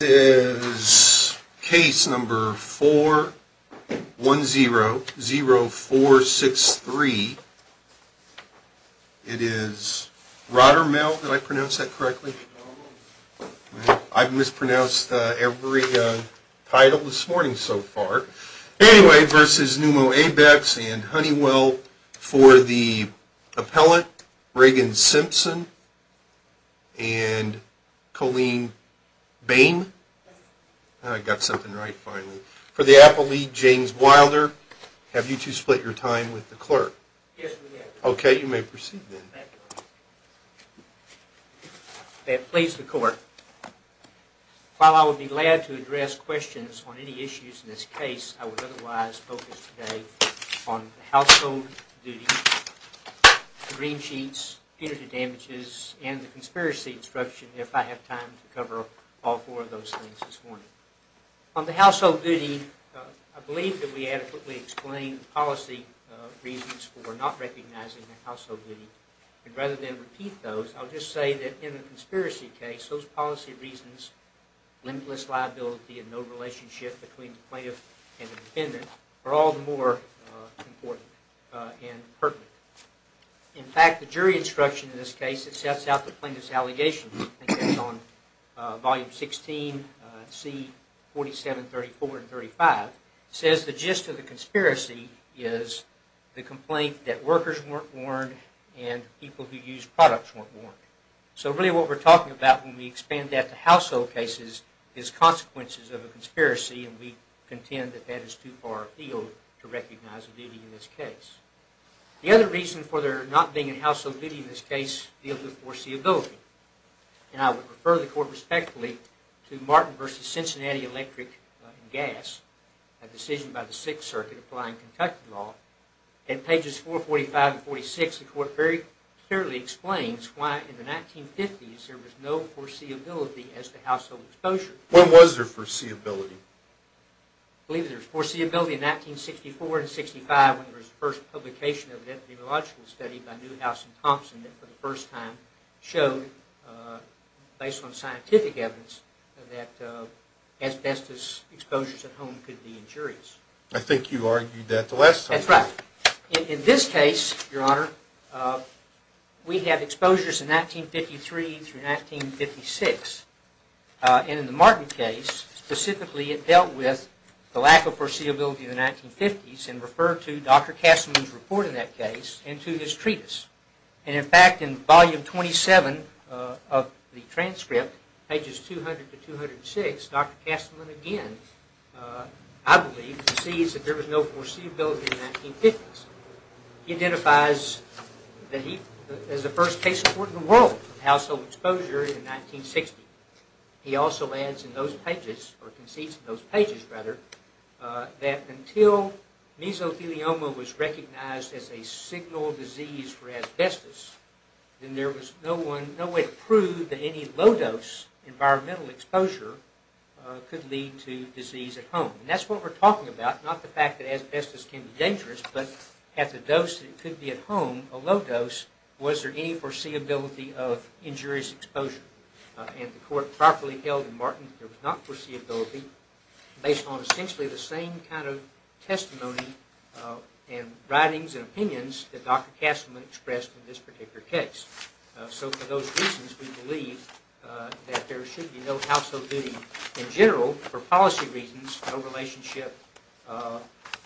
This is case number 410-0463. It is Rodarmel v. Pneumo Abex and Honeywell v. the appellate Reagan Simpson and Colleen Bain. I got something right finally. For the appellate James Wilder, have you two split your time with the clerk? Yes, we have. Okay, you may proceed then. May it please the court. While I would be glad to address questions on any issues in this case, I would otherwise focus today on the household duty, the green sheets, punitive damages, and the conspiracy instruction if I have time to cover all four of those things this morning. On the household duty, I believe that we adequately explained the policy reasons for not recognizing the household duty, and rather than repeat those, I'll just say that in a conspiracy case, those policy reasons, limitless liability and no relationship between the plaintiff and the defendant, are all the more important and pertinent. In fact, the jury instruction in this case that sets out the plaintiff's allegations, I think that's on volume 16, C. 4734 and 35, says the gist of the conspiracy is the complaint that workers weren't warned and people who use products weren't warned. So really what we're talking about when we expand that to household cases is consequences of a conspiracy, and we contend that that is too far afield to recognize the duty in this case. The other reason for there not being a household duty in this case deals with foreseeability, and I would refer the court respectfully to Martin v. Cincinnati Electric and Gas, a decision by the Sixth Circuit applying Kentucky law. In pages 445 and 46, the court very clearly explains why in the 1950s there was no foreseeability as to household exposure. When was there foreseeability? I believe there was foreseeability in 1964 and 65 when there was the first publication of an epidemiological study by Newhouse and Thompson that for the first time showed, based on scientific evidence, that asbestos exposures at home could be injurious. I think you argued that the last time. That's right. In this case, Your Honor, we have exposures in 1953 through 1956, and in the Martin case, specifically, it dealt with the lack of foreseeability in the 1950s and referred to Dr. Kastelman's report in that case and to his treatise. In fact, in volume 27 of the transcript, pages 200 to 206, Dr. Kastelman again, I believe, concedes that there was no foreseeability in the 1950s. He identifies that he was the first case in the world of household exposure in 1960. He also adds in those pages, or concedes in those pages, rather, that until mesothelioma was recognized as a signal disease for asbestos, then there was no way to prove that any low-dose environmental exposure could lead to disease at home. And that's what we're talking about, not the fact that asbestos can be dangerous, but at the dose that it could be at home, a low dose, was there any foreseeability of injurious exposure? And the court properly held in Martin that there was not foreseeability based on essentially the same kind of testimony and writings and opinions that Dr. Kastelman expressed in this particular case. So for those reasons, we believe that there should be no household duty. In general, for policy reasons, no relationship,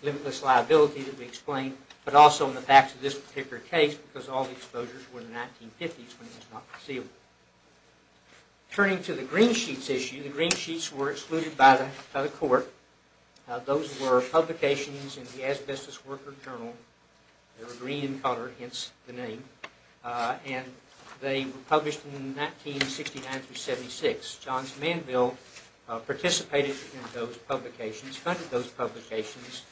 limitless liability that we explained, but also in the facts of this particular case, because all the exposures were in the 1950s when it was not foreseeable. Turning to the green sheets issue, the green sheets were excluded by the court. Those were publications in the Asbestos Worker Journal. They were green in color, hence the name. And they were published in 1969 through 76. Johns Manville participated in those publications, funded those publications,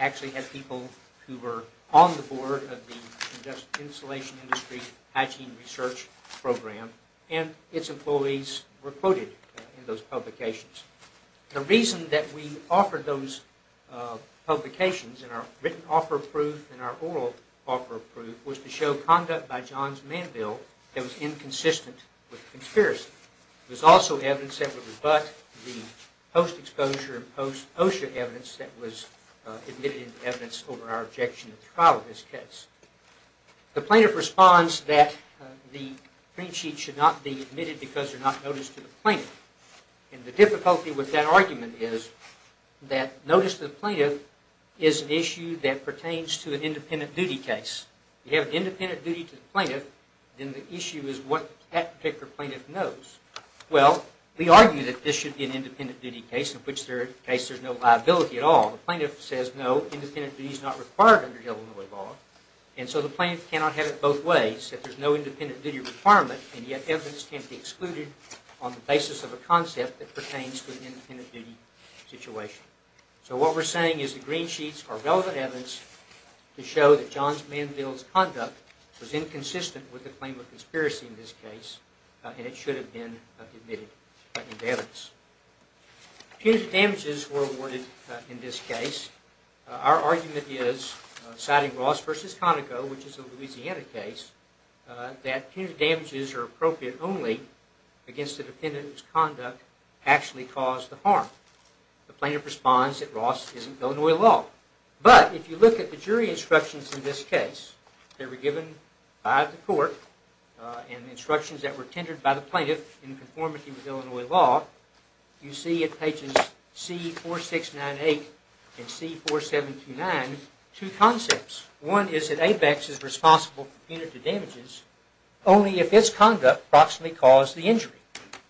actually had people who were on the board of the Insulation Industry Hygiene Research Program, and its employees were quoted in those publications. The reason that we offered those publications in our written offer of proof and our oral offer of proof was to show conduct by Johns Manville that was inconsistent with conspiracy. It was also evidence that would rebut the post-exposure and post-OSHA evidence that was admitted as evidence over our objection to the trial of this case. The plaintiff responds that the green sheets should not be admitted because they're not noticed to the plaintiff. And the difficulty with that argument is that notice to the plaintiff is an issue that pertains to an independent duty case. You have independent duty to the plaintiff, then the issue is what that particular plaintiff knows. Well, we argue that this should be an independent duty case in which there is no liability at all. The plaintiff says no, independent duty is not required under Illinois law. And so the plaintiff cannot have it both ways, that there's no independent duty requirement, and yet evidence can't be excluded on the basis of a concept that pertains to an independent duty situation. So what we're saying is the green sheets are relevant evidence to show that Johns Manville's conduct was inconsistent with the claim of conspiracy in this case, and it should have been admitted as evidence. Punitive damages were awarded in this case. Our argument is, citing Ross v. Conoco, which is a Louisiana case, that punitive damages are appropriate only against the defendant whose conduct actually caused the harm. The plaintiff responds that Ross isn't Illinois law. But if you look at the jury instructions in this case that were given by the court, and the instructions that were tendered by the plaintiff in conformity with Illinois law, you see at pages C4698 and C4729 two concepts. One is that ABEX is responsible for punitive damages only if its conduct approximately caused the injury.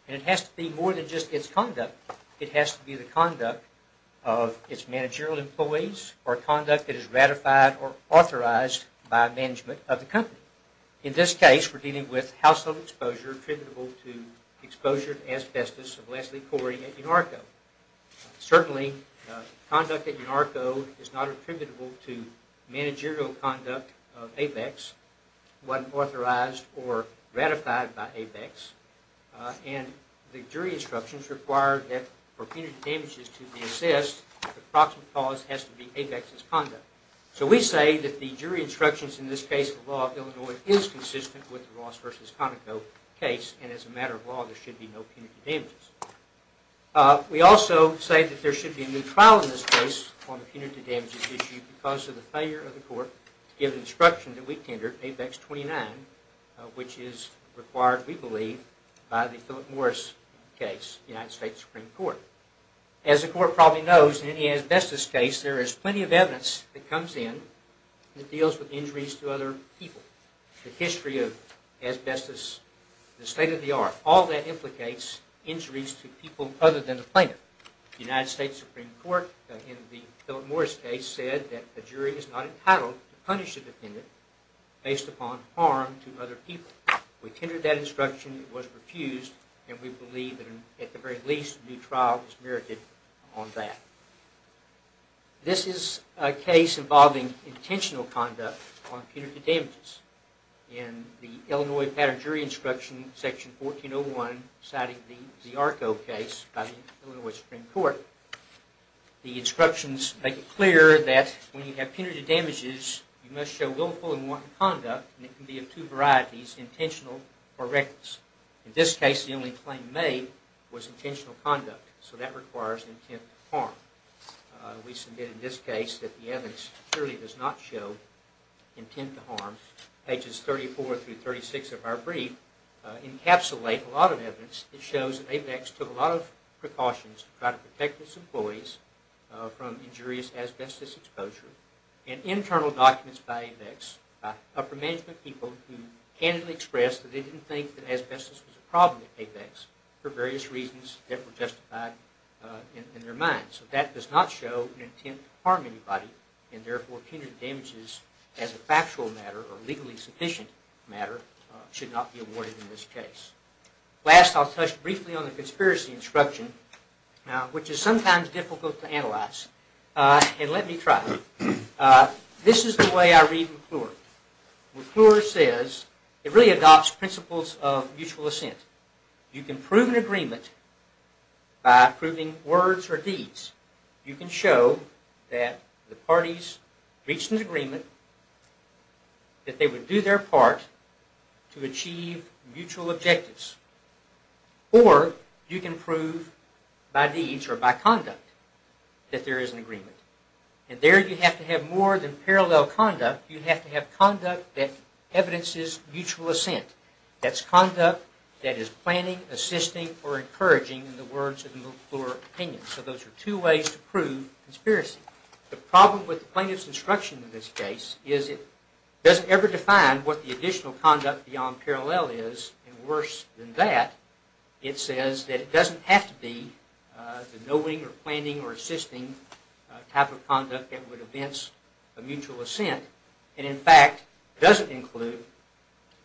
And it has to be more than just its conduct. It has to be the conduct of its managerial employees, or conduct that is ratified or authorized by management of the company. In this case, we're dealing with household exposure attributable to exposure to asbestos of Leslie Corey at UNARCO. Certainly, conduct at UNARCO is not attributable to managerial conduct of ABEX, wasn't authorized or ratified by ABEX, and the jury instructions require that for punitive damages to be assessed, the approximate cause has to be ABEX's conduct. So we say that the jury instructions in this case of Illinois law is consistent with the Ross v. Conoco case, and as a matter of law, there should be no punitive damages. We also say that there should be a new trial in this case on the punitive damages issue because of the failure of the court to give instruction to the weak tender, ABEX 29, which is required, we believe, by the Philip Morris case, United States Supreme Court. As the court probably knows, in any asbestos case, there is plenty of evidence that comes in that deals with injuries to other people, the history of asbestos, the state of the art. All that implicates injuries to people other than the plaintiff. The United States Supreme Court, in the Philip Morris case, said that the jury is not entitled to punish the defendant based upon harm to other people. We tendered that instruction, it was refused, and we believe, at the very least, a new trial is merited on that. This is a case involving intentional conduct on punitive damages. In the Illinois Pattern Jury Instruction, Section 1401, citing the ARCO case by the Illinois Supreme Court, the instructions make it clear that when you have punitive damages, you must show willful and wanton conduct, and it can be of two varieties, intentional or reckless. In this case, the only claim made was intentional conduct, so that requires intent to harm. We submit in this case that the evidence clearly does not show intent to harm. Pages 34 through 36 of our brief encapsulate a lot of evidence that shows that AVEX took a lot of precautions to try to protect its employees from injurious asbestos exposure, and internal documents by AVEX, by upper management people, who candidly expressed that they didn't think that asbestos was a problem at AVEX for various reasons that were justified in their minds. That does not show an intent to harm anybody, and therefore punitive damages as a factual matter or legally sufficient matter should not be awarded in this case. Last, I'll touch briefly on the conspiracy instruction, which is sometimes difficult to analyze. Let me try. This is the way I read McClure. McClure says, it really adopts principles of mutual assent. You can prove an agreement by proving words or deeds. You can show that the parties reached an agreement, that they would do their part to achieve mutual objectives. Or, you can prove by deeds or by conduct that there is an agreement. And there you have to have more than parallel conduct. You have to have conduct that evidences mutual assent. That's conduct that is planning, assisting, or encouraging in the words of the McClure opinion. So those are two ways to prove conspiracy. The problem with the plaintiff's instruction in this case is it doesn't ever define what the additional conduct beyond parallel is. And worse than that, it says that it doesn't have to be the knowing or planning or assisting type of conduct that would evince a mutual assent. And in fact, it doesn't include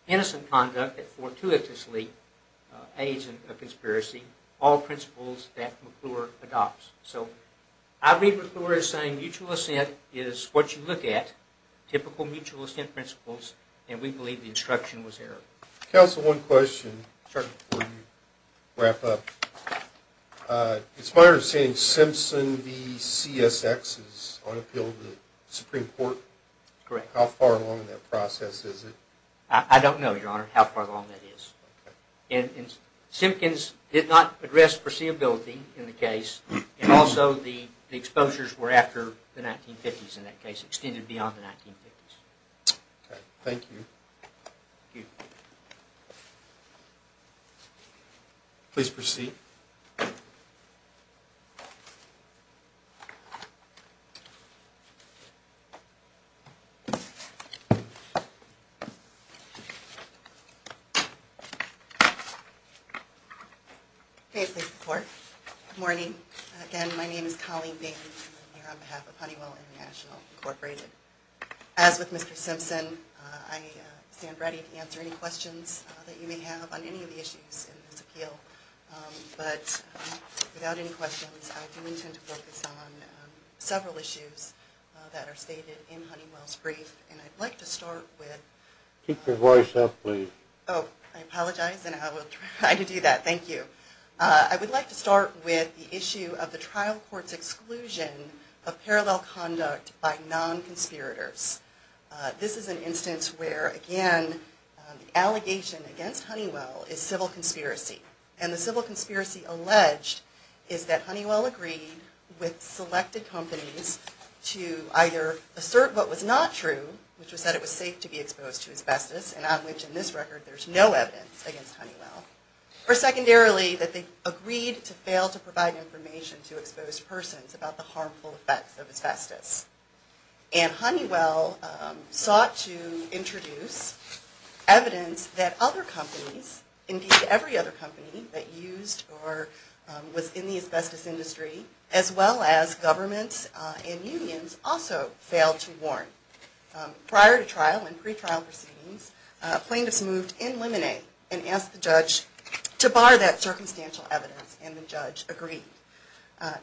innocent conduct that fortuitously aids in a conspiracy. All principles that McClure adopts. So, I read McClure as saying mutual assent is what you look at. Typical mutual assent principles. And we believe the instruction was error. Counsel, one question. Sure. Before you wrap up. It's my understanding Simpson v. CSX is on appeal to the Supreme Court. Correct. How far along in that process is it? I don't know, Your Honor, how far along that is. Okay. And Simpkins did not address foreseeability in the case. And also the exposures were after the 1950s in that case. Extended beyond the 1950s. Okay. Thank you. Thank you. Please proceed. Okay, please report. Good morning. Again, my name is Colleen Bateman. I'm here on behalf of Honeywell International, Incorporated. As with Mr. Simpson, I stand ready to answer any questions that you may have on any of the issues in this appeal. But without any questions, I do intend to focus on several issues that are stated in Honeywell's brief. And I'd like to start with Keep your voice up, please. Oh, I apologize. And I will try to do that. Thank you. I would like to start with the issue of the trial court's exclusion of parallel conduct by non-conspirators. This is an instance where, again, the allegation against Honeywell is civil conspiracy. And the civil conspiracy alleged is that Honeywell agreed with selected companies to either assert what was not true, which was that it was safe to be exposed to asbestos, and on which, in this record, there's no evidence against Honeywell. Or secondarily, that they agreed to fail to provide information to exposed persons about the harmful effects of asbestos. And Honeywell sought to introduce evidence that other companies, indeed every other company that used or was in the asbestos industry, as well as governments and unions, also failed to warn. Prior to trial and pre-trial proceedings, plaintiffs moved in limine and asked the judge to bar that circumstantial evidence. And the judge agreed.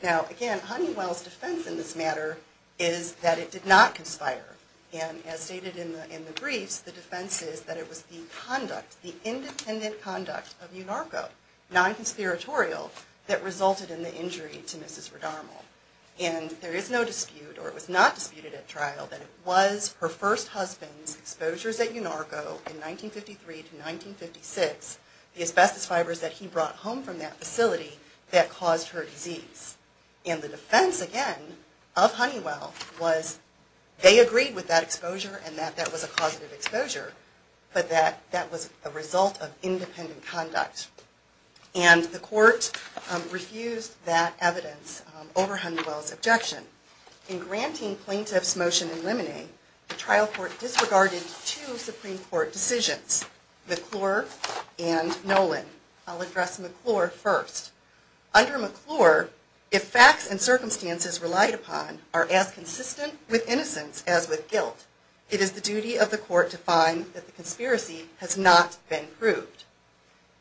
Now, again, Honeywell's defense in this matter is that it did not conspire. And as stated in the briefs, the defense is that it was the conduct, the independent conduct of UNARCO, non-conspiratorial, that resulted in the injury to Mrs. Redarmo. And there is no dispute, or it was not disputed at trial, that it was her first husband's exposures at UNARCO in 1953 to 1956, the asbestos fibers that he brought home from that facility, that caused her disease. And the defense, again, of Honeywell was they agreed with that exposure and that that was a causative exposure, but that that was a result of independent conduct. And the court refused that evidence over Honeywell's objection. In granting plaintiff's motion in limine, the trial court disregarded two Supreme Court decisions, McClure and Nolan. I'll address McClure first. Under McClure, if facts and circumstances relied upon are as consistent with innocence as with guilt, it is the duty of the court to find that the conspiracy has not been proved.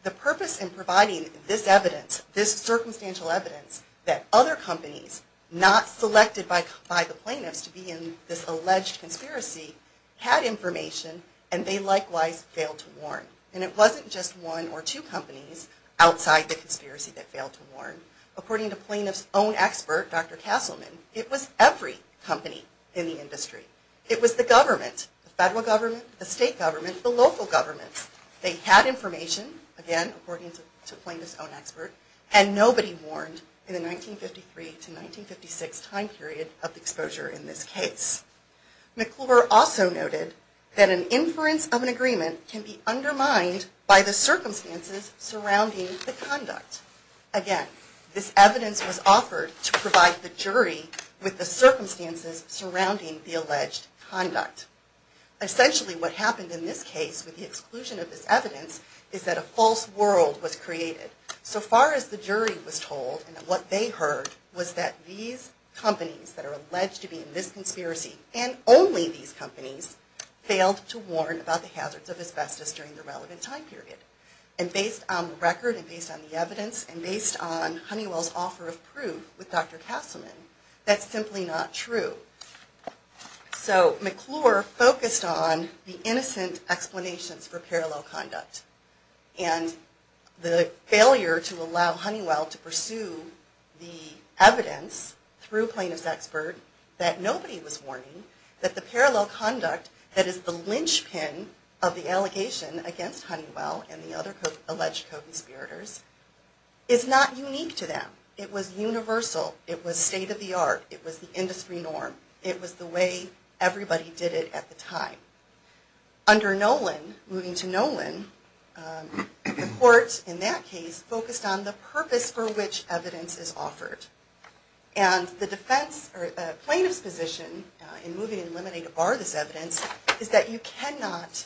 The purpose in providing this evidence, this circumstantial evidence, that other companies, not selected by the plaintiffs to be in this alleged conspiracy, had information and they likewise failed to warn. And it wasn't just one or two companies outside the conspiracy that failed to warn. According to plaintiff's own expert, Dr. Castleman, it was every company in the industry. It was the government, the federal government, the state government, the local governments. They had information, again according to plaintiff's own expert, and nobody warned in the 1953 to 1956 time period of exposure in this case. McClure also noted that an inference of an agreement can be undermined by the circumstances surrounding the conduct. Again, this evidence was offered to provide the jury with the circumstances surrounding the alleged conduct. Essentially what happened in this case with the exclusion of this evidence is that a false world was created. So far as the jury was told and what they heard was that these companies that are alleged to be in this conspiracy and only these companies failed to warn about the hazards of asbestos during the relevant time period. And based on the record and based on the evidence and based on Honeywell's offer of proof with Dr. Castleman, that's simply not true. So McClure focused on the innocent explanations for parallel conduct. And the failure to allow Honeywell to pursue the evidence through plaintiff's expert, that nobody was warning, that the parallel conduct that is the linchpin of the allegation against Honeywell and the other alleged co-conspirators is not unique to them. It was universal. It was state-of-the-art. It was the industry norm. It was the way everybody did it at the time. Under Nolan, moving to Nolan, the court in that case focused on the purpose for which evidence is offered. And the plaintiff's position in moving to eliminate or bar this evidence is that you cannot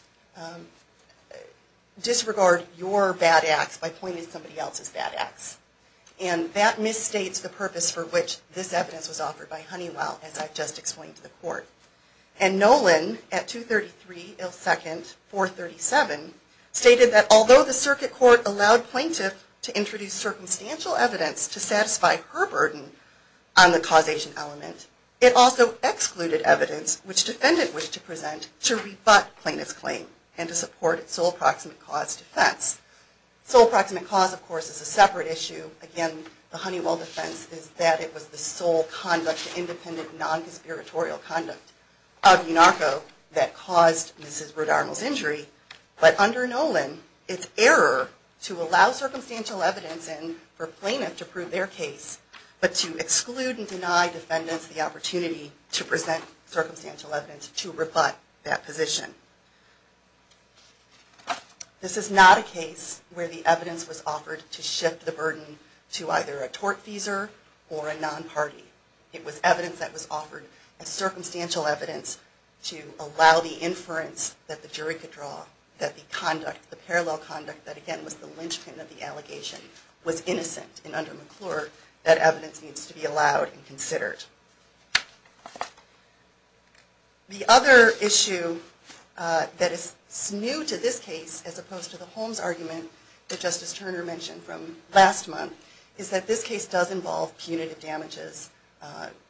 disregard your bad acts by pointing to somebody else's bad acts. And that misstates the purpose for which this evidence was offered by Honeywell, as I've just explained to the court. And Nolan, at 233 Il 2nd 437, stated that although the circuit court allowed plaintiff to introduce circumstantial evidence to satisfy her burden on the causation element, it also excluded evidence which defendant wished to present to rebut plaintiff's claim and to support sole proximate cause defense. Sole proximate cause, of course, is a separate issue. Again, the Honeywell defense is that it was the sole conduct, independent, non-conspiratorial conduct of Unarco that caused Mrs. Rudarmill's injury. But under Nolan, it's error to allow circumstantial evidence in for plaintiff to prove their case, but to exclude and deny defendants the opportunity to present circumstantial evidence to rebut that position. This is not a case where the evidence was offered to shift the burden to either a tortfeasor or a non-party. It was evidence that was offered as circumstantial evidence to allow the inference that the jury could draw that the conduct, the parallel conduct, that again was the linchpin of the allegation, was innocent, and under McClure, that evidence needs to be allowed and considered. The other issue that is new to this case, as opposed to the Holmes argument that Justice Turner mentioned from last month, is that this case does involve punitive damages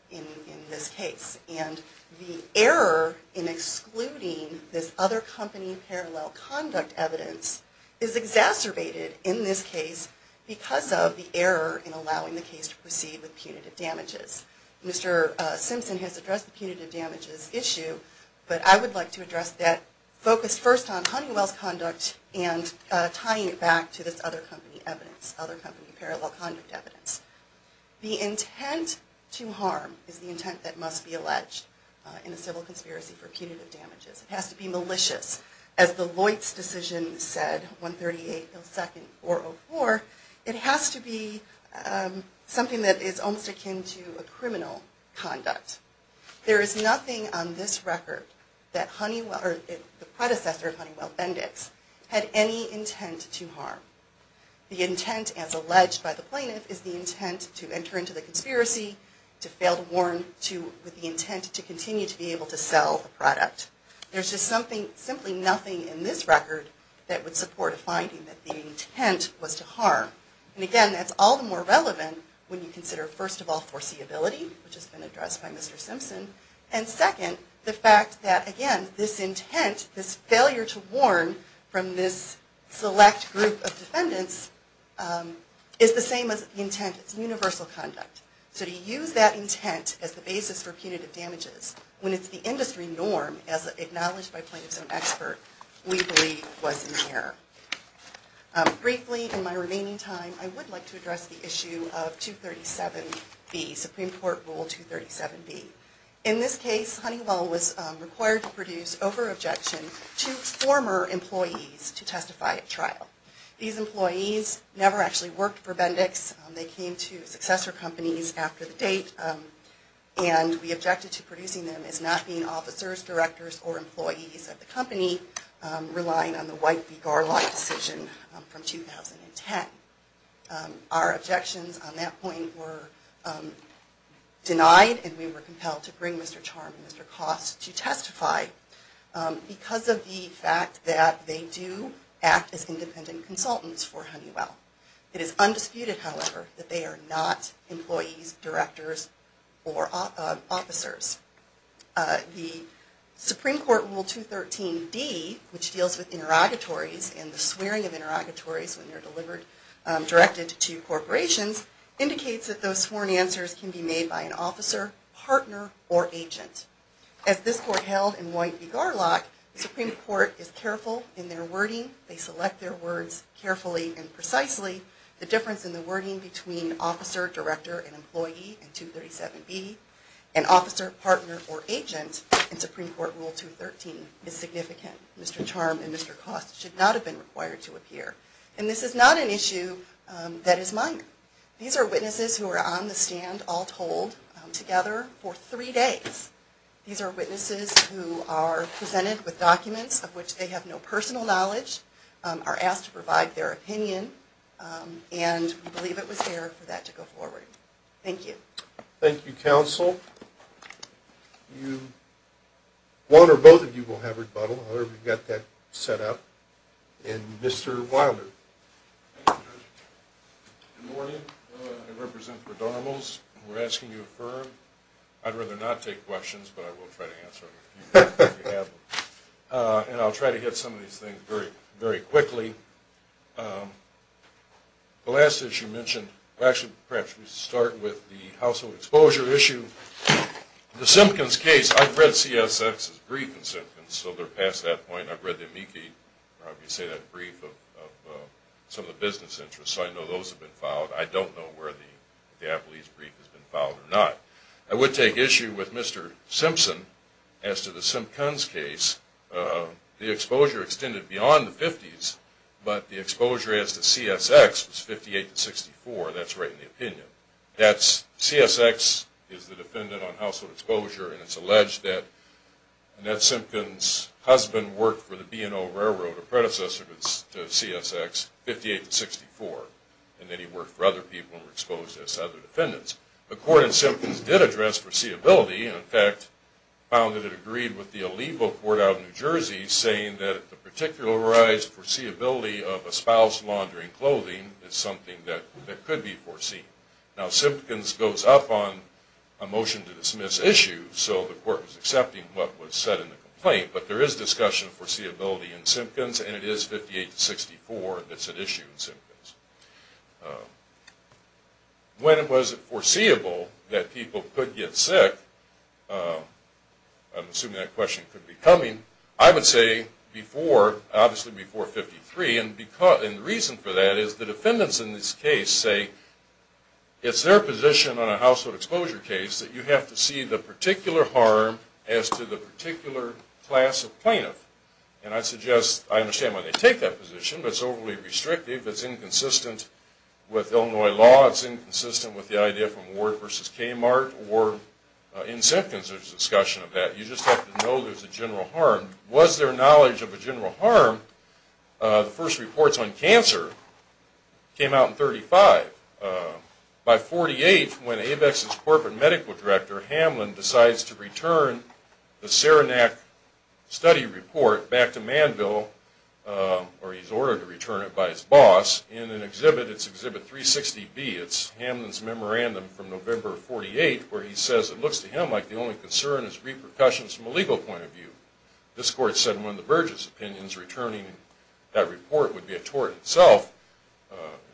in this case. And the error in excluding this other company parallel conduct evidence is exacerbated in this case because of the error in allowing the case to proceed with punitive damages. Mr. Simpson has addressed the punitive damages issue, but I would like to address that, focused first on Honeywell's conduct and tying it back to this other company evidence, other company parallel conduct evidence. The intent to harm is the intent that must be alleged in a civil conspiracy for punitive damages. It has to be malicious. As the Lloyds decision said, 138.02.404, it has to be something that is almost akin to a criminal conduct. There is nothing on this record that the predecessor of Honeywell, Bendix, had any intent to harm. The intent, as alleged by the plaintiff, is the intent to enter into the conspiracy, to fail to warn, with the intent to continue to be able to sell the product. There's just simply nothing in this record that would support a finding that the intent was to harm. And again, that's all the more relevant when you consider, first of all, foreseeability, which has been addressed by Mr. Simpson, and second, the fact that, again, this intent, this failure to warn from this select group of defendants, is the same as the intent. It's universal conduct. So to use that intent as the basis for punitive damages, when it's the industry norm, as acknowledged by plaintiffs and experts, we believe was in error. Briefly, in my remaining time, I would like to address the issue of 237B, Supreme Court Rule 237B. In this case, Honeywell was required to produce over-objection to former employees to testify at trial. These employees never actually worked for Bendix. They came to successor companies after the date, and we objected to producing them as not being officers, directors, or employees of the company, relying on the White v. Garland decision from 2010. Our objections on that point were denied, and we were compelled to bring Mr. Charm and Mr. Koss to testify, because of the fact that they do act as independent consultants for Honeywell. It is undisputed, however, that they are not employees, directors, or officers. The Supreme Court Rule 213D, which deals with interrogatories, and the swearing of interrogatories when they're directed to corporations, indicates that those sworn answers can be made by an officer, partner, or agent. As this Court held in White v. Garland, the Supreme Court is careful in their wording. They select their words carefully and precisely. The difference in the wording between officer, director, and employee in 237B, and officer, partner, or agent in Supreme Court Rule 213 is significant. Mr. Charm and Mr. Koss should not have been required to appear. And this is not an issue that is minor. These are witnesses who are on the stand, all told, together for three days. These are witnesses who are presented with documents of which they have no personal knowledge, are asked to provide their opinion, and we believe it was fair for that to go forward. Thank you. Thank you, Counsel. One or both of you will have rebuttal, however you've got that set up. And Mr. Wilder. Good morning. I represent Redarmals. We're asking you to affirm. I'd rather not take questions, but I will try to answer them if you have them. And I'll try to hit some of these things very quickly. The last issue mentioned, actually perhaps we should start with the household exposure issue. The Simpkins case, I've read CSX's brief in Simpkins, so they're past that point. I've read the amici, if you say that, brief of some of the business interests, so I know those have been filed. I don't know where the Appalachian brief has been filed or not. I would take issue with Mr. Simpson as to the Simpkins case. The exposure extended beyond the 50s, but the exposure as to CSX was 58 to 64. That's right in the opinion. CSX is the defendant on household exposure, and it's alleged that Annette Simpkins' husband worked for the B&O Railroad, who was a predecessor to CSX, 58 to 64. And then he worked for other people and was exposed as other defendants. The court in Simpkins did address foreseeability, and in fact found that it agreed with the Alivo court out in New Jersey saying that the particularized foreseeability of a spouse laundering clothing is something that could be foreseen. Now Simpkins goes up on a motion to dismiss issue, so the court was accepting what was said in the complaint, but there is discussion of foreseeability in Simpkins, and it is 58 to 64 that's at issue in Simpkins. When it was foreseeable that people could get sick, I'm assuming that question could be coming, I would say before, obviously before 53, and the reason for that is the defendants in this case say it's their position on a household exposure case that you have to see the particular harm as to the particular class of plaintiff. And I suggest, I understand why they take that position, but it's overly restrictive, it's inconsistent with Illinois law, it's inconsistent with the idea from Ward v. Kmart, or in Simpkins there's discussion of that. You just have to know there's a general harm. Was there knowledge of a general harm? The first reports on cancer came out in 35. By 48, when Avex's corporate medical director, Hamlin, decides to return the Saranac study report back to Manville, or he's ordered to return it by his boss, in an exhibit, it's exhibit 360B, it's Hamlin's memorandum from November of 48, where he says it looks to him like the only concern is repercussions from a legal point of view. This court said in one of the Burgess opinions, returning that report would be a tort itself,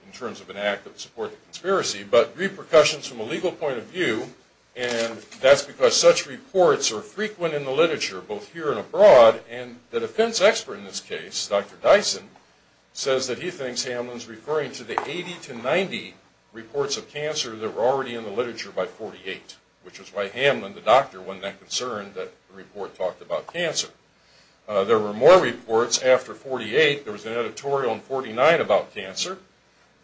in terms of an act that would support the conspiracy, but repercussions from a legal point of view, and that's because such reports are frequent in the literature, both here and abroad, and the defense expert in this case, Dr. Dyson, says that he thinks Hamlin's referring to the 80 to 90 reports of cancer that were already in the literature by 48, which is why Hamlin, the doctor, wasn't that concerned that the report talked about cancer. There were more reports after 48. There was an editorial in 49 about cancer,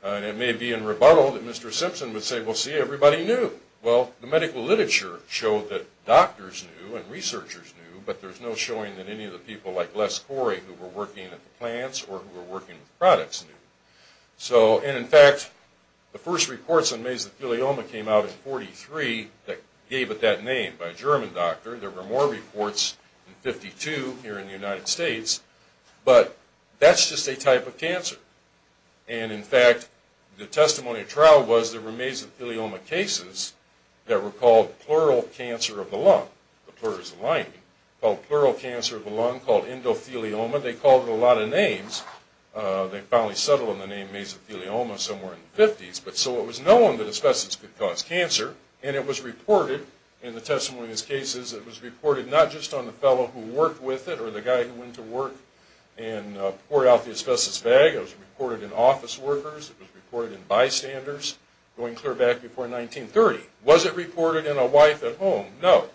and it may be in rebuttal that Mr. Simpson would say, well, see, everybody knew. Well, the medical literature showed that doctors knew and researchers knew, but there's no showing that any of the people like Les Corey, who were working at the plants or who were working with products, knew. And, in fact, the first reports on mesothelioma came out in 43 that gave it that name by a German doctor. There were more reports in 52 here in the United States, but that's just a type of cancer. And, in fact, the testimony of trial was there were mesothelioma cases that were called pleural cancer of the lung, the pleuris lining, called pleural cancer of the lung, called endothelioma. They called it a lot of names. They finally settled on the name mesothelioma somewhere in the 50s, but so it was known that asbestos could cause cancer, and it was reported in the testimony of these cases, it was reported not just on the fellow who worked with it or the guy who went to work and poured out the asbestos bag. It was reported in office workers. It was reported in bystanders going clear back before 1930. Was it reported in a wife at home? No.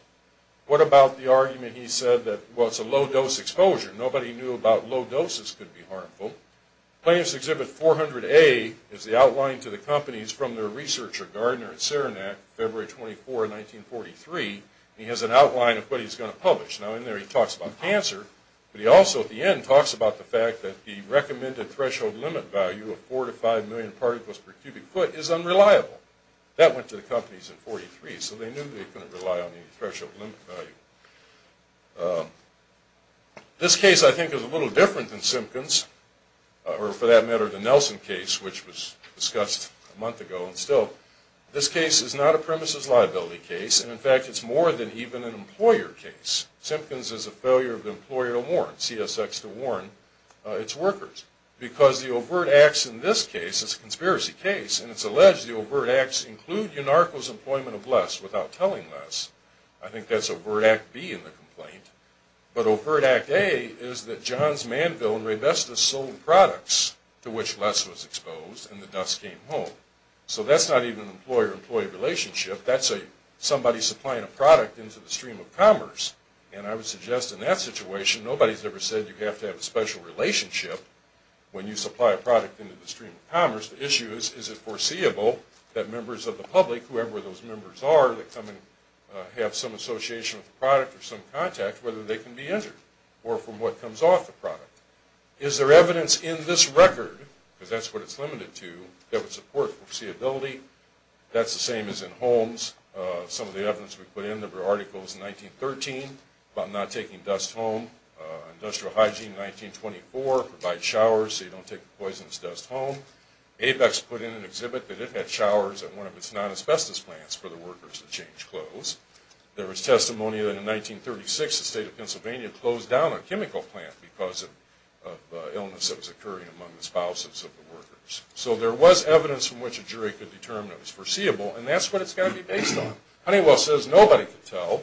What about the argument he said that, well, it's a low-dose exposure. Nobody knew about low doses could be harmful. Plants Exhibit 400A is the outline to the companies from their researcher Gardner at Serenac, February 24, 1943, and he has an outline of what he's going to publish. Now, in there he talks about cancer, but he also, at the end, talks about the fact that the recommended exposure to asbestos was 40 percent, and the company went to the companies at 43, so they knew they couldn't rely on the threshold value. This case, I think, is a little different than Simpkins, or for that matter, the Nelson case, which was discussed a month ago, and still. This case is not a premises liability case, and in fact, it's more than even an employer case. Simpkins is a failure of the employer to warrant, CSX to warrant, its workers, because the overt acts in this case is a conspiracy case, and it's alleged the overt acts include Unarco's employment of LESS without telling LESS. I think that's overt Act B in the complaint, but overt Act A is that Johns Manville and Raybestos sold products to which LESS was exposed, and the dust came home. So that's not even an employer-employee relationship. That's somebody supplying a product into the stream of commerce, and I would suggest in that situation, nobody's ever said you have to have a special relationship when you supply a product into the stream of commerce. The issue is, is it foreseeable that members of the public, whoever those members are, that come and have some association with the product or some contact, whether they can be entered or from what comes off the product. Is there evidence in this record, because that's what it's limited to, that would support foreseeability? That's the same as in Holmes. Some of the evidence we put in, there were articles in 1913 about not taking dust home. Industrial hygiene, 1924, provide showers so you don't take the poisonous dust home. Apex put in an exhibit that it had showers at one of its non-asbestos plants for the workers to change clothes. There was testimony that in 1936, the state of Pennsylvania closed down a chemical plant because of the illness that was occurring among the spouses of the Honeywell. Honeywell says nobody could tell,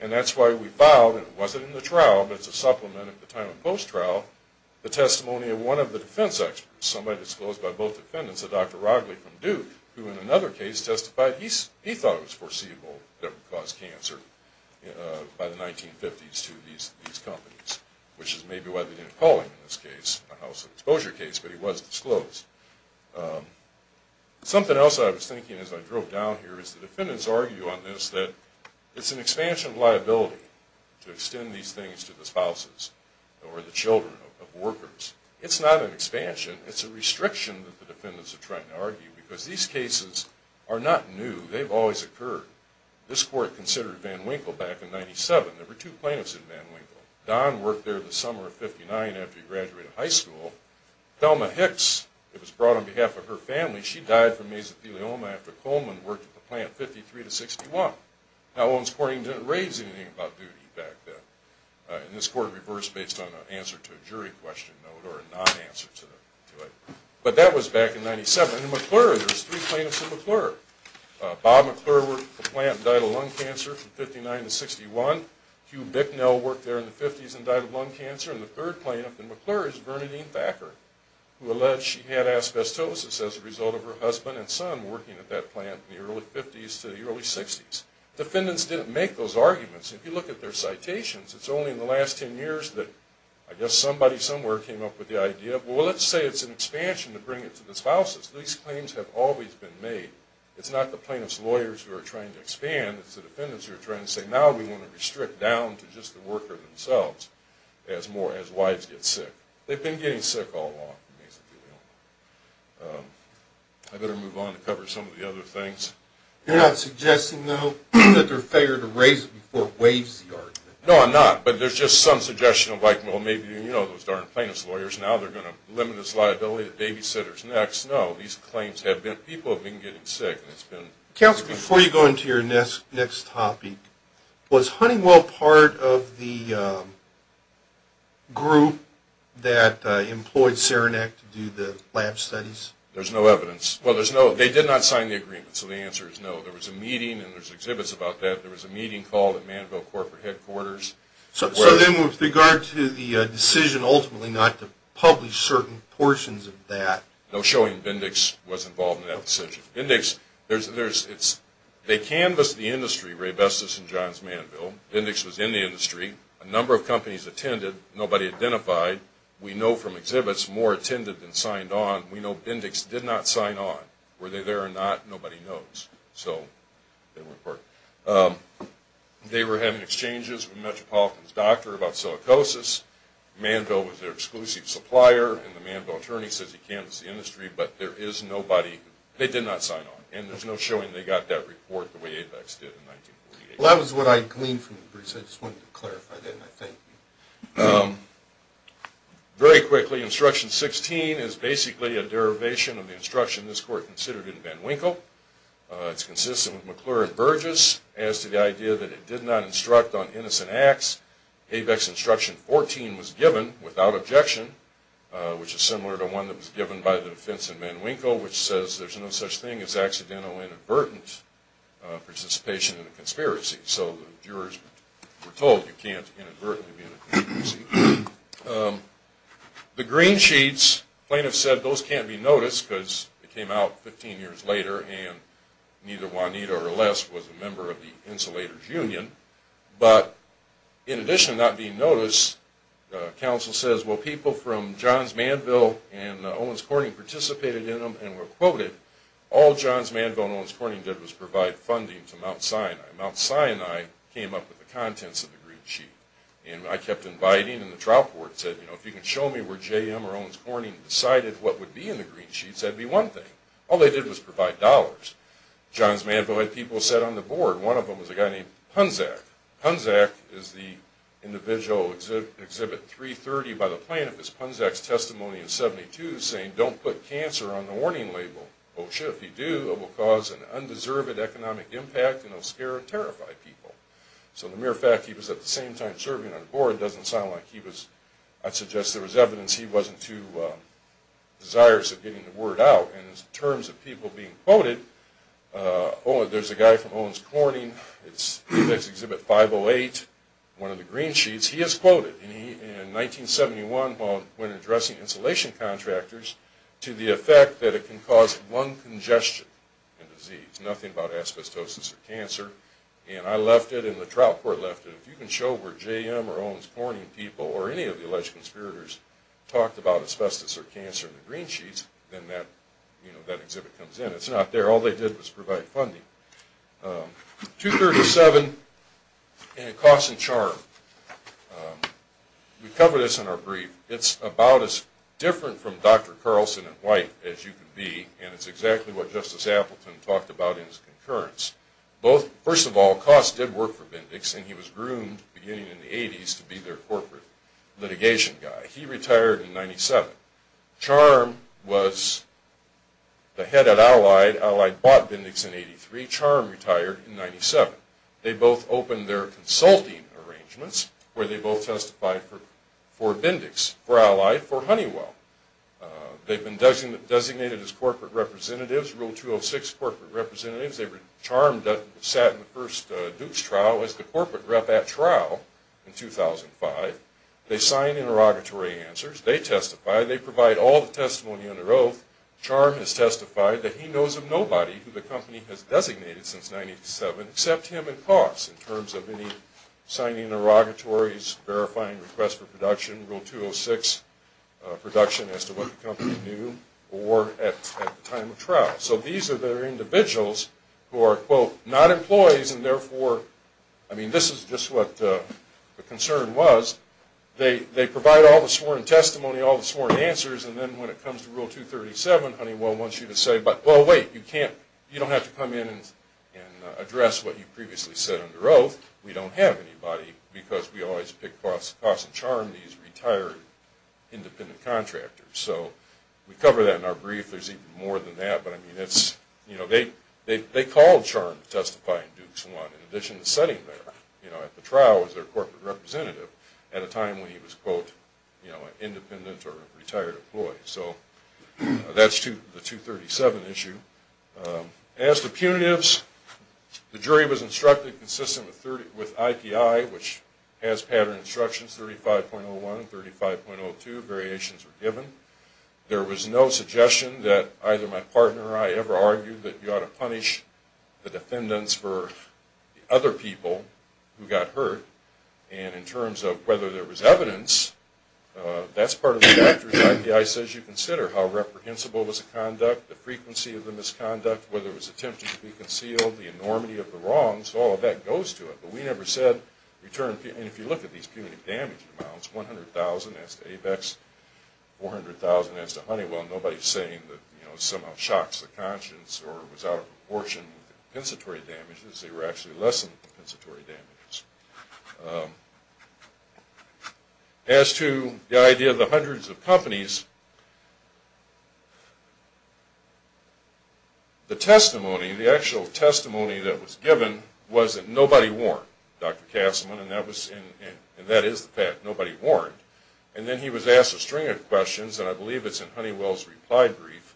and that's why we filed, and it wasn't in the trial, but it's a supplement at the time of post-trial, the testimony of one of the defense experts, somebody disclosed by both defendants, a Dr. Rodley from Duke, who in another case testified he thought it was foreseeable that it would cause cancer by the 1950s to these companies, which is maybe why they didn't call him in this case, a house of exposure case, but he was disclosed. Something else I was thinking as I drove down here is the defendants argue on this that it's an expansion of liability to extend these things to the spouses or the children of workers. It's not an expansion. It's a restriction that the defendants are trying to argue because these cases are not new. They've always occurred. This court considered Van Winkle back in 1997. There were two plaintiffs in Van Winkle. Don worked there the summer of 59 after he graduated high school. Thelma Hicks, it was brought on behalf of her family, she died from mesothelioma after Coleman worked at the plant 53 to 61. Now Owens Courting didn't raise anything about duty back then, and this court reversed based on an answer to a jury question note or a non-answer to it. But that was back in 97. And in McClure, there's three plaintiffs in McClure. Bob McClure worked at the plant and died of lung cancer from 59 to 61. Hugh Bicknell worked there in the 50s and died of lung cancer. And the third plaintiff in McClure is Bernadine Thacker, who alleged she had asbestosis as a result of her husband and son working at that plant in the early 50s to the early 60s. Defendants didn't make those arguments. If you look at their citations, it's only in the last 10 years that I guess somebody somewhere came up with the idea, well, let's say it's an expansion to bring it to the spouses. These claims have always been made. It's not the plaintiff's lawyers who are trying to expand. It's the defendants who are trying to say, now we want to restrict down to just the worker themselves as more, as wives get sick. They've been getting sick all along, basically. I better move on to cover some of the other things. You're not suggesting, though, that they're fair to raise it before it waives the argument? No, I'm not. But there's just some suggestion of like, well, maybe, you know, those darn plaintiff's lawyers. Now they're going to limit this liability to babysitters next. No, these claims have been, people have been getting sick. Counselor, before you go into your next topic, was Honeywell part of the group that employed Saranac to do the lab studies? There's no evidence. Well, there's no, they did not sign the agreement, so the answer is no. There was a meeting, and there's exhibits about that. There was a meeting called at Manville corporate headquarters. So then with regard to the decision ultimately not to publish certain portions of that. No showing Bindex was involved in that decision. Bindex, there's, it's, they canvassed the industry, Ray Bestis and Johns Manville. Bindex was in the industry. A number of companies attended. Nobody identified. We know from exhibits more attended than signed on. We know Bindex did not sign on. Were they there or not, nobody knows. So they weren't part of it. They were having exchanges with Metropolitan's doctor about silicosis. Manville was their exclusive supplier, and the Manville attorney says he canvassed the industry, but there is nobody, they did not sign on. And there's no showing they got that report the way Apex did in 1948. Well, that was what I gleaned from the briefs. I just wanted to clarify that, and I thank you. Very quickly, instruction 16 is basically a derivation of the instruction this court considered in Van Winkle. It's consistent with McClure and Burgess as to the idea that it did not instruct on innocent acts. Apex instruction 14 was given without objection, which is similar to one that was given by the defense in Van Winkle, which says there's no such thing as accidental inadvertent participation in a conspiracy. So the jurors were told you can't inadvertently be in a conspiracy. The green sheets, plaintiffs said those can't be noticed because it came out 15 years later, and neither Juanita or Les was a member of the Insulators Union. But in addition to not being noticed, counsel says, well, people from Johns Manville and Owens Corning participated in them and were quoted. All Johns Manville and Owens Corning did was provide funding to Mount Sinai. Mount Sinai came up with the contents of the green sheet. And I kept inviting, and the trial court said, you know, if you can show me where J.M. or Owens Corning decided what would be in the green sheet, that'd be one thing. All they did was provide dollars. Johns Manville had people set on the board. One of them was a guy named Punzack. Punzack is the individual exhibit 330 by the plaintiff. It's Punzack's testimony in 72 saying don't put cancer on the warning label. Oh shit, if you do, it will cause an undeserved economic impact and it will scare and terrify people. So the mere fact he was at the same time serving on board doesn't sound like he was, I'd suggest there was evidence he wasn't too desirous of getting the word out. And in terms of people being quoted, there's a guy from Owens Corning. It's exhibit 508, one of the green sheets. He is quoted in 1971 when addressing insulation contractors to the effect that it can cause one congestion in disease, nothing about asbestosis or cancer. And I left it and the trial court left it. If you can show where J.M. or Owens Corning people or any of the alleged conspirators talked about asbestos or cancer in the green sheets, then that exhibit comes in. It's not there. All they did was provide funding. 237, Coss and Charm. We cover this in our brief. It's about as different from Dr. Carlson and White as you can be and it's exactly what Justice Appleton talked about in his concurrence. First of all, Coss did work for Bendix and he was groomed beginning in the 80s to be their corporate litigation guy. He retired in 97. Charm was the head at Allied. Allied bought Bendix in 83. Charm retired in 97. They both opened their consulting arrangements where they both testified for Bendix, for Allied, for Honeywell. They've been designated as corporate representatives, Rule 206 corporate representatives. Charm sat in the first Dukes trial as the corporate rep at trial in 2005. They signed interrogatory answers. They testify. They provide all the testimony under oath. Charm has testified that he knows of nobody who the company has designated since 97 except him and Coss in terms of any signing interrogatories, verifying requests for production, Rule 206 production as to what the company knew, or at the time of trial. So these are the individuals who are, quote, not employees and therefore, I mean, this is just what the concern was. They provide all the sworn testimony, all the sworn answers, and then when it comes to Rule 237, Honeywell wants you to say, well, wait, you don't have to come in and address what you previously said under oath. We don't have anybody because we always pick Coss and Charm, these retired independent contractors. So we cover that in our brief. There's even more than that, but I mean, they called Charm to testify in Dukes 1 in addition to sitting there at the trial as their corporate representative at a time when he was, quote, an independent or retired employee. So that's the 237 issue. As to punitives, the jury was instructed consistent with IPI, which has pattern instructions 35.01 and 35.02. Variations were given. There was no suggestion that either my partner or I ever argued that you ought to punish the defendants for the other people who got hurt. And in terms of whether there was evidence, that's part of the doctrine. IPI says you consider how reprehensible was the conduct, the frequency of the misconduct, whether it was attempted to be concealed, the enormity of the wrongs, all of that goes to it. But we never said return, and if you look at these punitive damage amounts, 100,000 as to ABEX, 400,000 as to Honeywell, nobody's saying that it somehow shocks the conscience or was out of proportion with the compensatory damages. They were actually less than compensatory damages. As to the idea of the hundreds of companies, the testimony, the actual testimony that was given was that nobody warned Dr. Kastman, and that is the fact. Nobody warned. And then he was asked a string of questions, and I believe it's in Honeywell's reply brief.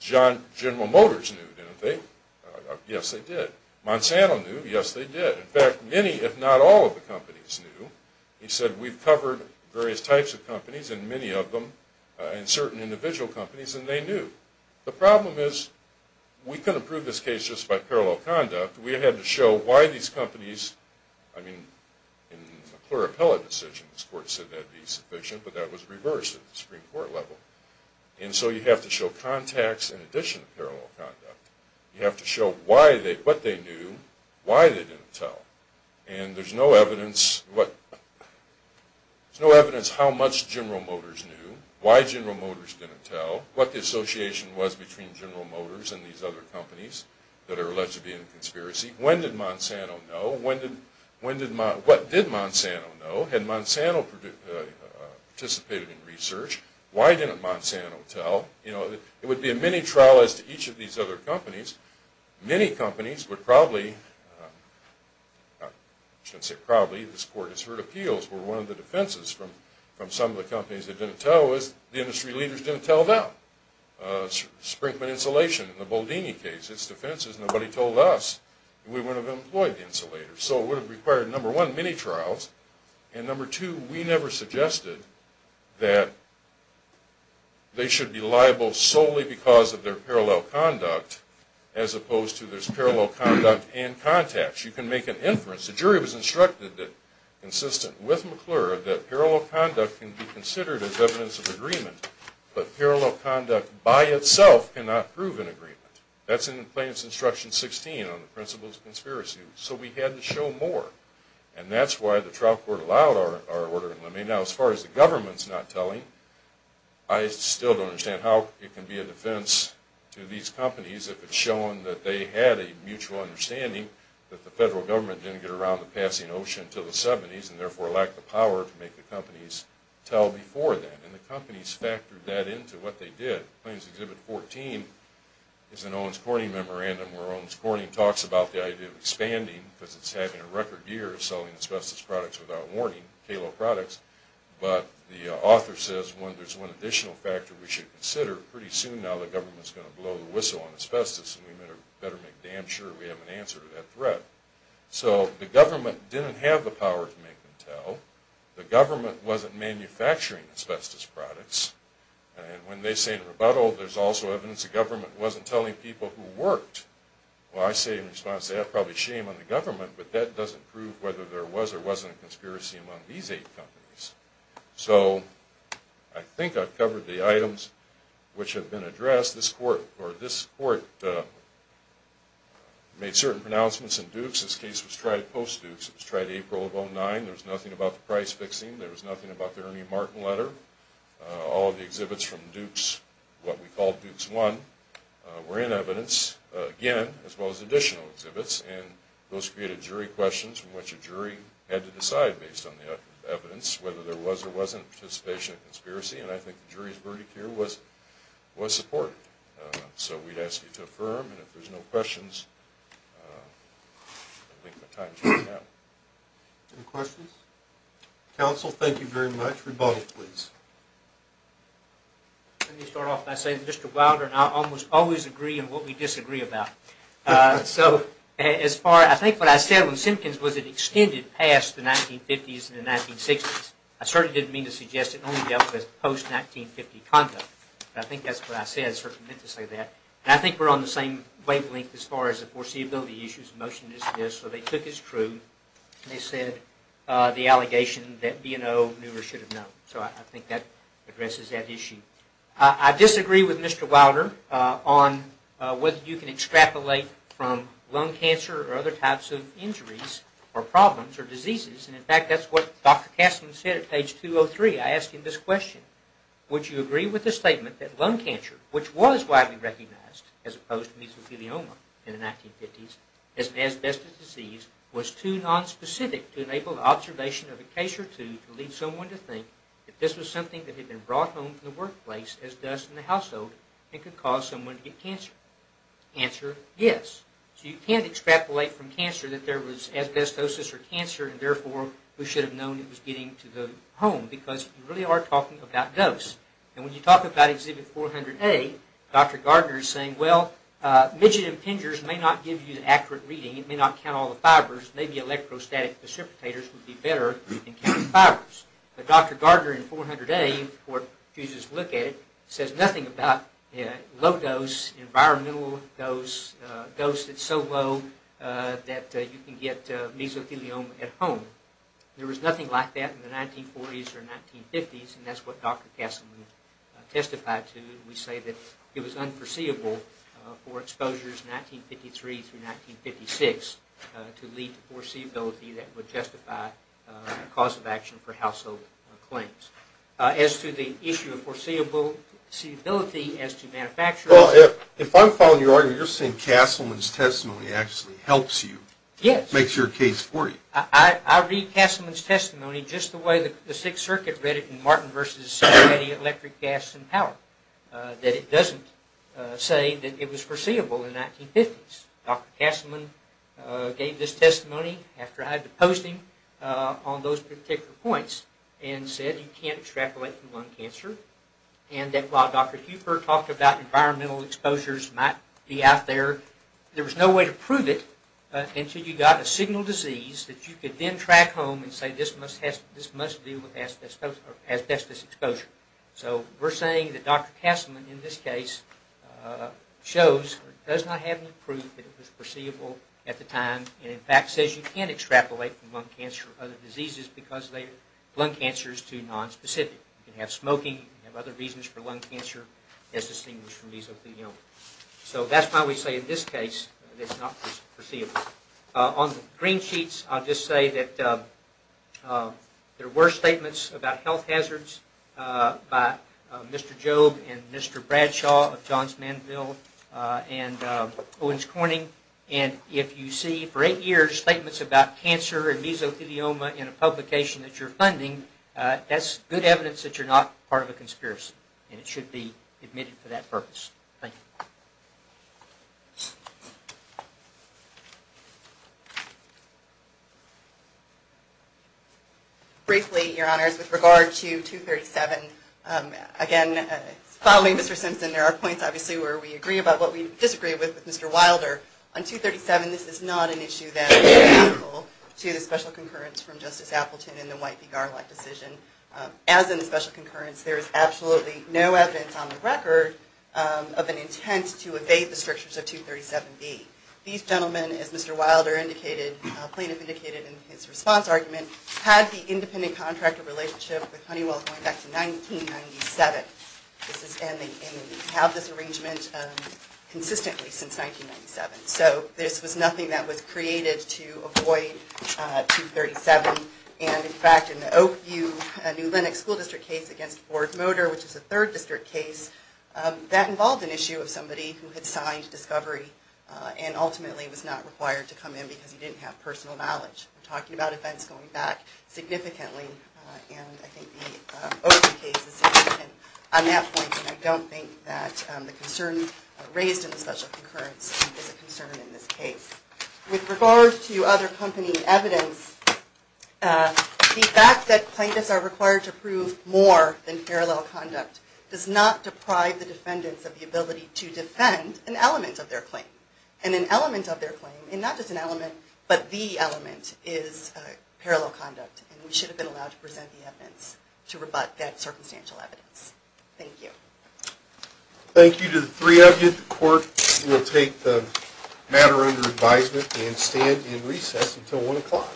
General Motors knew, didn't they? Yes, they did. Monsanto knew. Yes, they did. In fact, many, if not all, of the companies knew. He said we've covered various types of companies, and many of them, and certain individual companies, and they knew. The problem is we couldn't prove this case just by parallel conduct. We had to show why these companies, I mean, in a clear appellate decision, this Court said that would be sufficient, but that was reversed at the Supreme Court level. And so you have to show contacts in addition to parallel conduct. You have to show what they knew, why they didn't tell. And there's no evidence how much General Motors knew, why General Motors didn't tell, what the association was between General Motors and these other companies that are alleged to be in the conspiracy. When did Monsanto know? What did Monsanto know? Had Monsanto participated in research? Why didn't Monsanto tell? You know, it would be a mini-trial as to each of these other companies. Many companies would probably, I shouldn't say probably, this Court has heard appeals where one of the defenses from some of the companies that didn't tell is the industry leaders didn't tell them. Sprinkler Insulation in the Boldini case, its defense is nobody told us and we wouldn't have employed the insulators. So it would have required, number one, mini-trials, and number two, we never suggested that they should be liable solely because of their parallel conduct as opposed to there's parallel conduct and contacts. You can make an inference. The jury was instructed that, consistent with McClure, that parallel conduct can be considered as evidence of agreement, but parallel conduct by itself cannot prove an agreement. That's in Plaintiff's Instruction 16 on the principles of conspiracy. So we had to show more. And that's why the trial court allowed our order. Now as far as the government's not telling, I still don't understand how it can be a defense to these companies if it's shown that they had a mutual understanding that the federal government didn't get around the passing of OSHA until the 70s and therefore lacked the power to make the companies tell before then. And the companies factored that into what they did. Plaintiff's Exhibit 14 is an Owens Corning memorandum where Owens Corning talks about the idea of expanding because it's having a record year of selling asbestos products without warning, KALO products, but the author says there's one additional factor we should consider. Pretty soon now the government's going to blow the whistle on asbestos and we better make damn sure we have an answer to that threat. So the government didn't have the power to make them tell. The government wasn't manufacturing asbestos products. And when they say in a rebuttal, there's also evidence the government wasn't telling people who worked. Well I say in response to that, probably shame on the government, but that doesn't prove whether there was or wasn't a conspiracy among these eight companies. So I think I've covered the items which have been addressed. This court made certain pronouncements in Dukes. This case was tried post-Dukes. It was tried April of 2009. There was nothing about the price fixing. There was nothing about the Ernie Martin letter. All of the exhibits from Dukes, what we call Dukes I, were in evidence, again, as well as additional exhibits. And those created jury questions from which a jury had to decide based on the evidence whether there was or wasn't participation in a conspiracy. And I think the jury's verdict here was support. So we'd ask you to affirm. And if there's no questions, I think the time is up. Any questions? Counsel, thank you very much. Rebuttal, please. Let me start off by saying that Mr. Wilder and I almost always agree on what we disagree about. So as far, I think what I said when Simpkins was it extended past the 1950s and the 1960s. I certainly didn't mean to suggest it only dealt with post-1950 conduct. But I think that's what I said. I certainly meant to say that. And I think we're on the same wavelength as far as the foreseeability issues, motion to dismiss. So they took as true, and they said the allegation that B&O knew or should have known. So I think that addresses that issue. I disagree with Mr. Wilder on whether you can extrapolate from lung cancer or other types of injuries or problems or diseases. And in fact, that's what Dr. Castleton said at page 203. I asked him this question. Would you agree with the statement that lung cancer, which was widely recognized as opposed to mesothelioma in the 1950s as an asbestos disease, was too nonspecific to enable observation of a case or two to lead someone to think that this was something that had been brought home from the workplace as dust in the household and could cause someone to get cancer? Answer, yes. So you can't extrapolate from cancer that there was asbestosis or cancer and therefore we should have known it was getting to the home because you really are talking about dose. And when you talk about exhibit 400A, Dr. Gardner is saying, well, midget impingers may not give you the accurate reading. It may not count all the fibers. Maybe electrostatic precipitators would be better in counting fibers. But Dr. Gardner in 400A, who refuses to look at it, says nothing about low dose, environmental dose, dose that's so low that you can get mesothelioma at home. There was nothing like that in the 1940s or 1950s, and that's what Dr. Castleman testified to. We say that it was unforeseeable for exposures in 1953 through 1956 to lead to foreseeability that would justify a cause of action for household claims. As to the issue of foreseeability as to manufacturers... Well, if I'm following your argument, you're saying Castleman's testimony actually helps you. Yes. Makes your case for you. I read Castleman's testimony just the way the Sixth Circuit read it in Martin v. Cincinnati Electric, Gas, and Power, that it doesn't say that it was foreseeable in the 1950s. Dr. Castleman gave this testimony after I had to post him on those particular points and said you can't extrapolate from lung cancer and that while Dr. Huper talked about environmental exposures might be out there, there was no way to prove it until you got a signal disease that you could then track home and say this must deal with asbestos exposure. So we're saying that Dr. Castleman in this case shows or does not have any proof that it was foreseeable at the time and in fact says you can extrapolate from lung cancer or other diseases because lung cancer is too nonspecific. You can have smoking. You can have other reasons for lung cancer as distinguished from mesothelioma. So that's why we say in this case that it's not foreseeable. On the green sheets, I'll just say that there were statements about health hazards by Mr. Jobe and Mr. Bradshaw of Johns Manville and Owens Corning, and if you see for eight years statements about cancer and mesothelioma in a publication that you're funding, that's good evidence that you're not part of a conspiracy and it should be admitted for that purpose. Thank you. Briefly, Your Honors, with regard to 237, again, following Mr. Simpson, there are points obviously where we agree about what we disagree with Mr. Wilder. On 237, this is not an issue that is identical to the special concurrence from Justice Appleton in the White v. Garland decision. As in the special concurrence, there is absolutely no evidence on the record of an intent to evade the strictures of 237B. These gentlemen, as Mr. Wilder indicated, plaintiff indicated in his response argument, had the independent contractor relationship with Honeywell going back to 1997. And they have this arrangement consistently since 1997. So this was nothing that was created to avoid 237. And in fact, in the Oak View New Lenox School District case against Ford Motor, which is a third district case, that involved an issue of somebody who had signed discovery and ultimately was not required to come in because he didn't have personal knowledge. We're talking about events going back significantly, and I think the Oak View case is significant on that point. And I don't think that the concern raised in the special concurrence is a concern in this case. With regard to other company evidence, the fact that plaintiffs are required to prove more than parallel conduct does not deprive the defendants of the ability to defend an element of their claim. And an element of their claim, and not just an element, but the element, is parallel conduct. And we should have been allowed to present the evidence to rebut that circumstantial evidence. Thank you. Thank you to the three of you. The court will take the matter under advisement and stand in recess until 1 o'clock.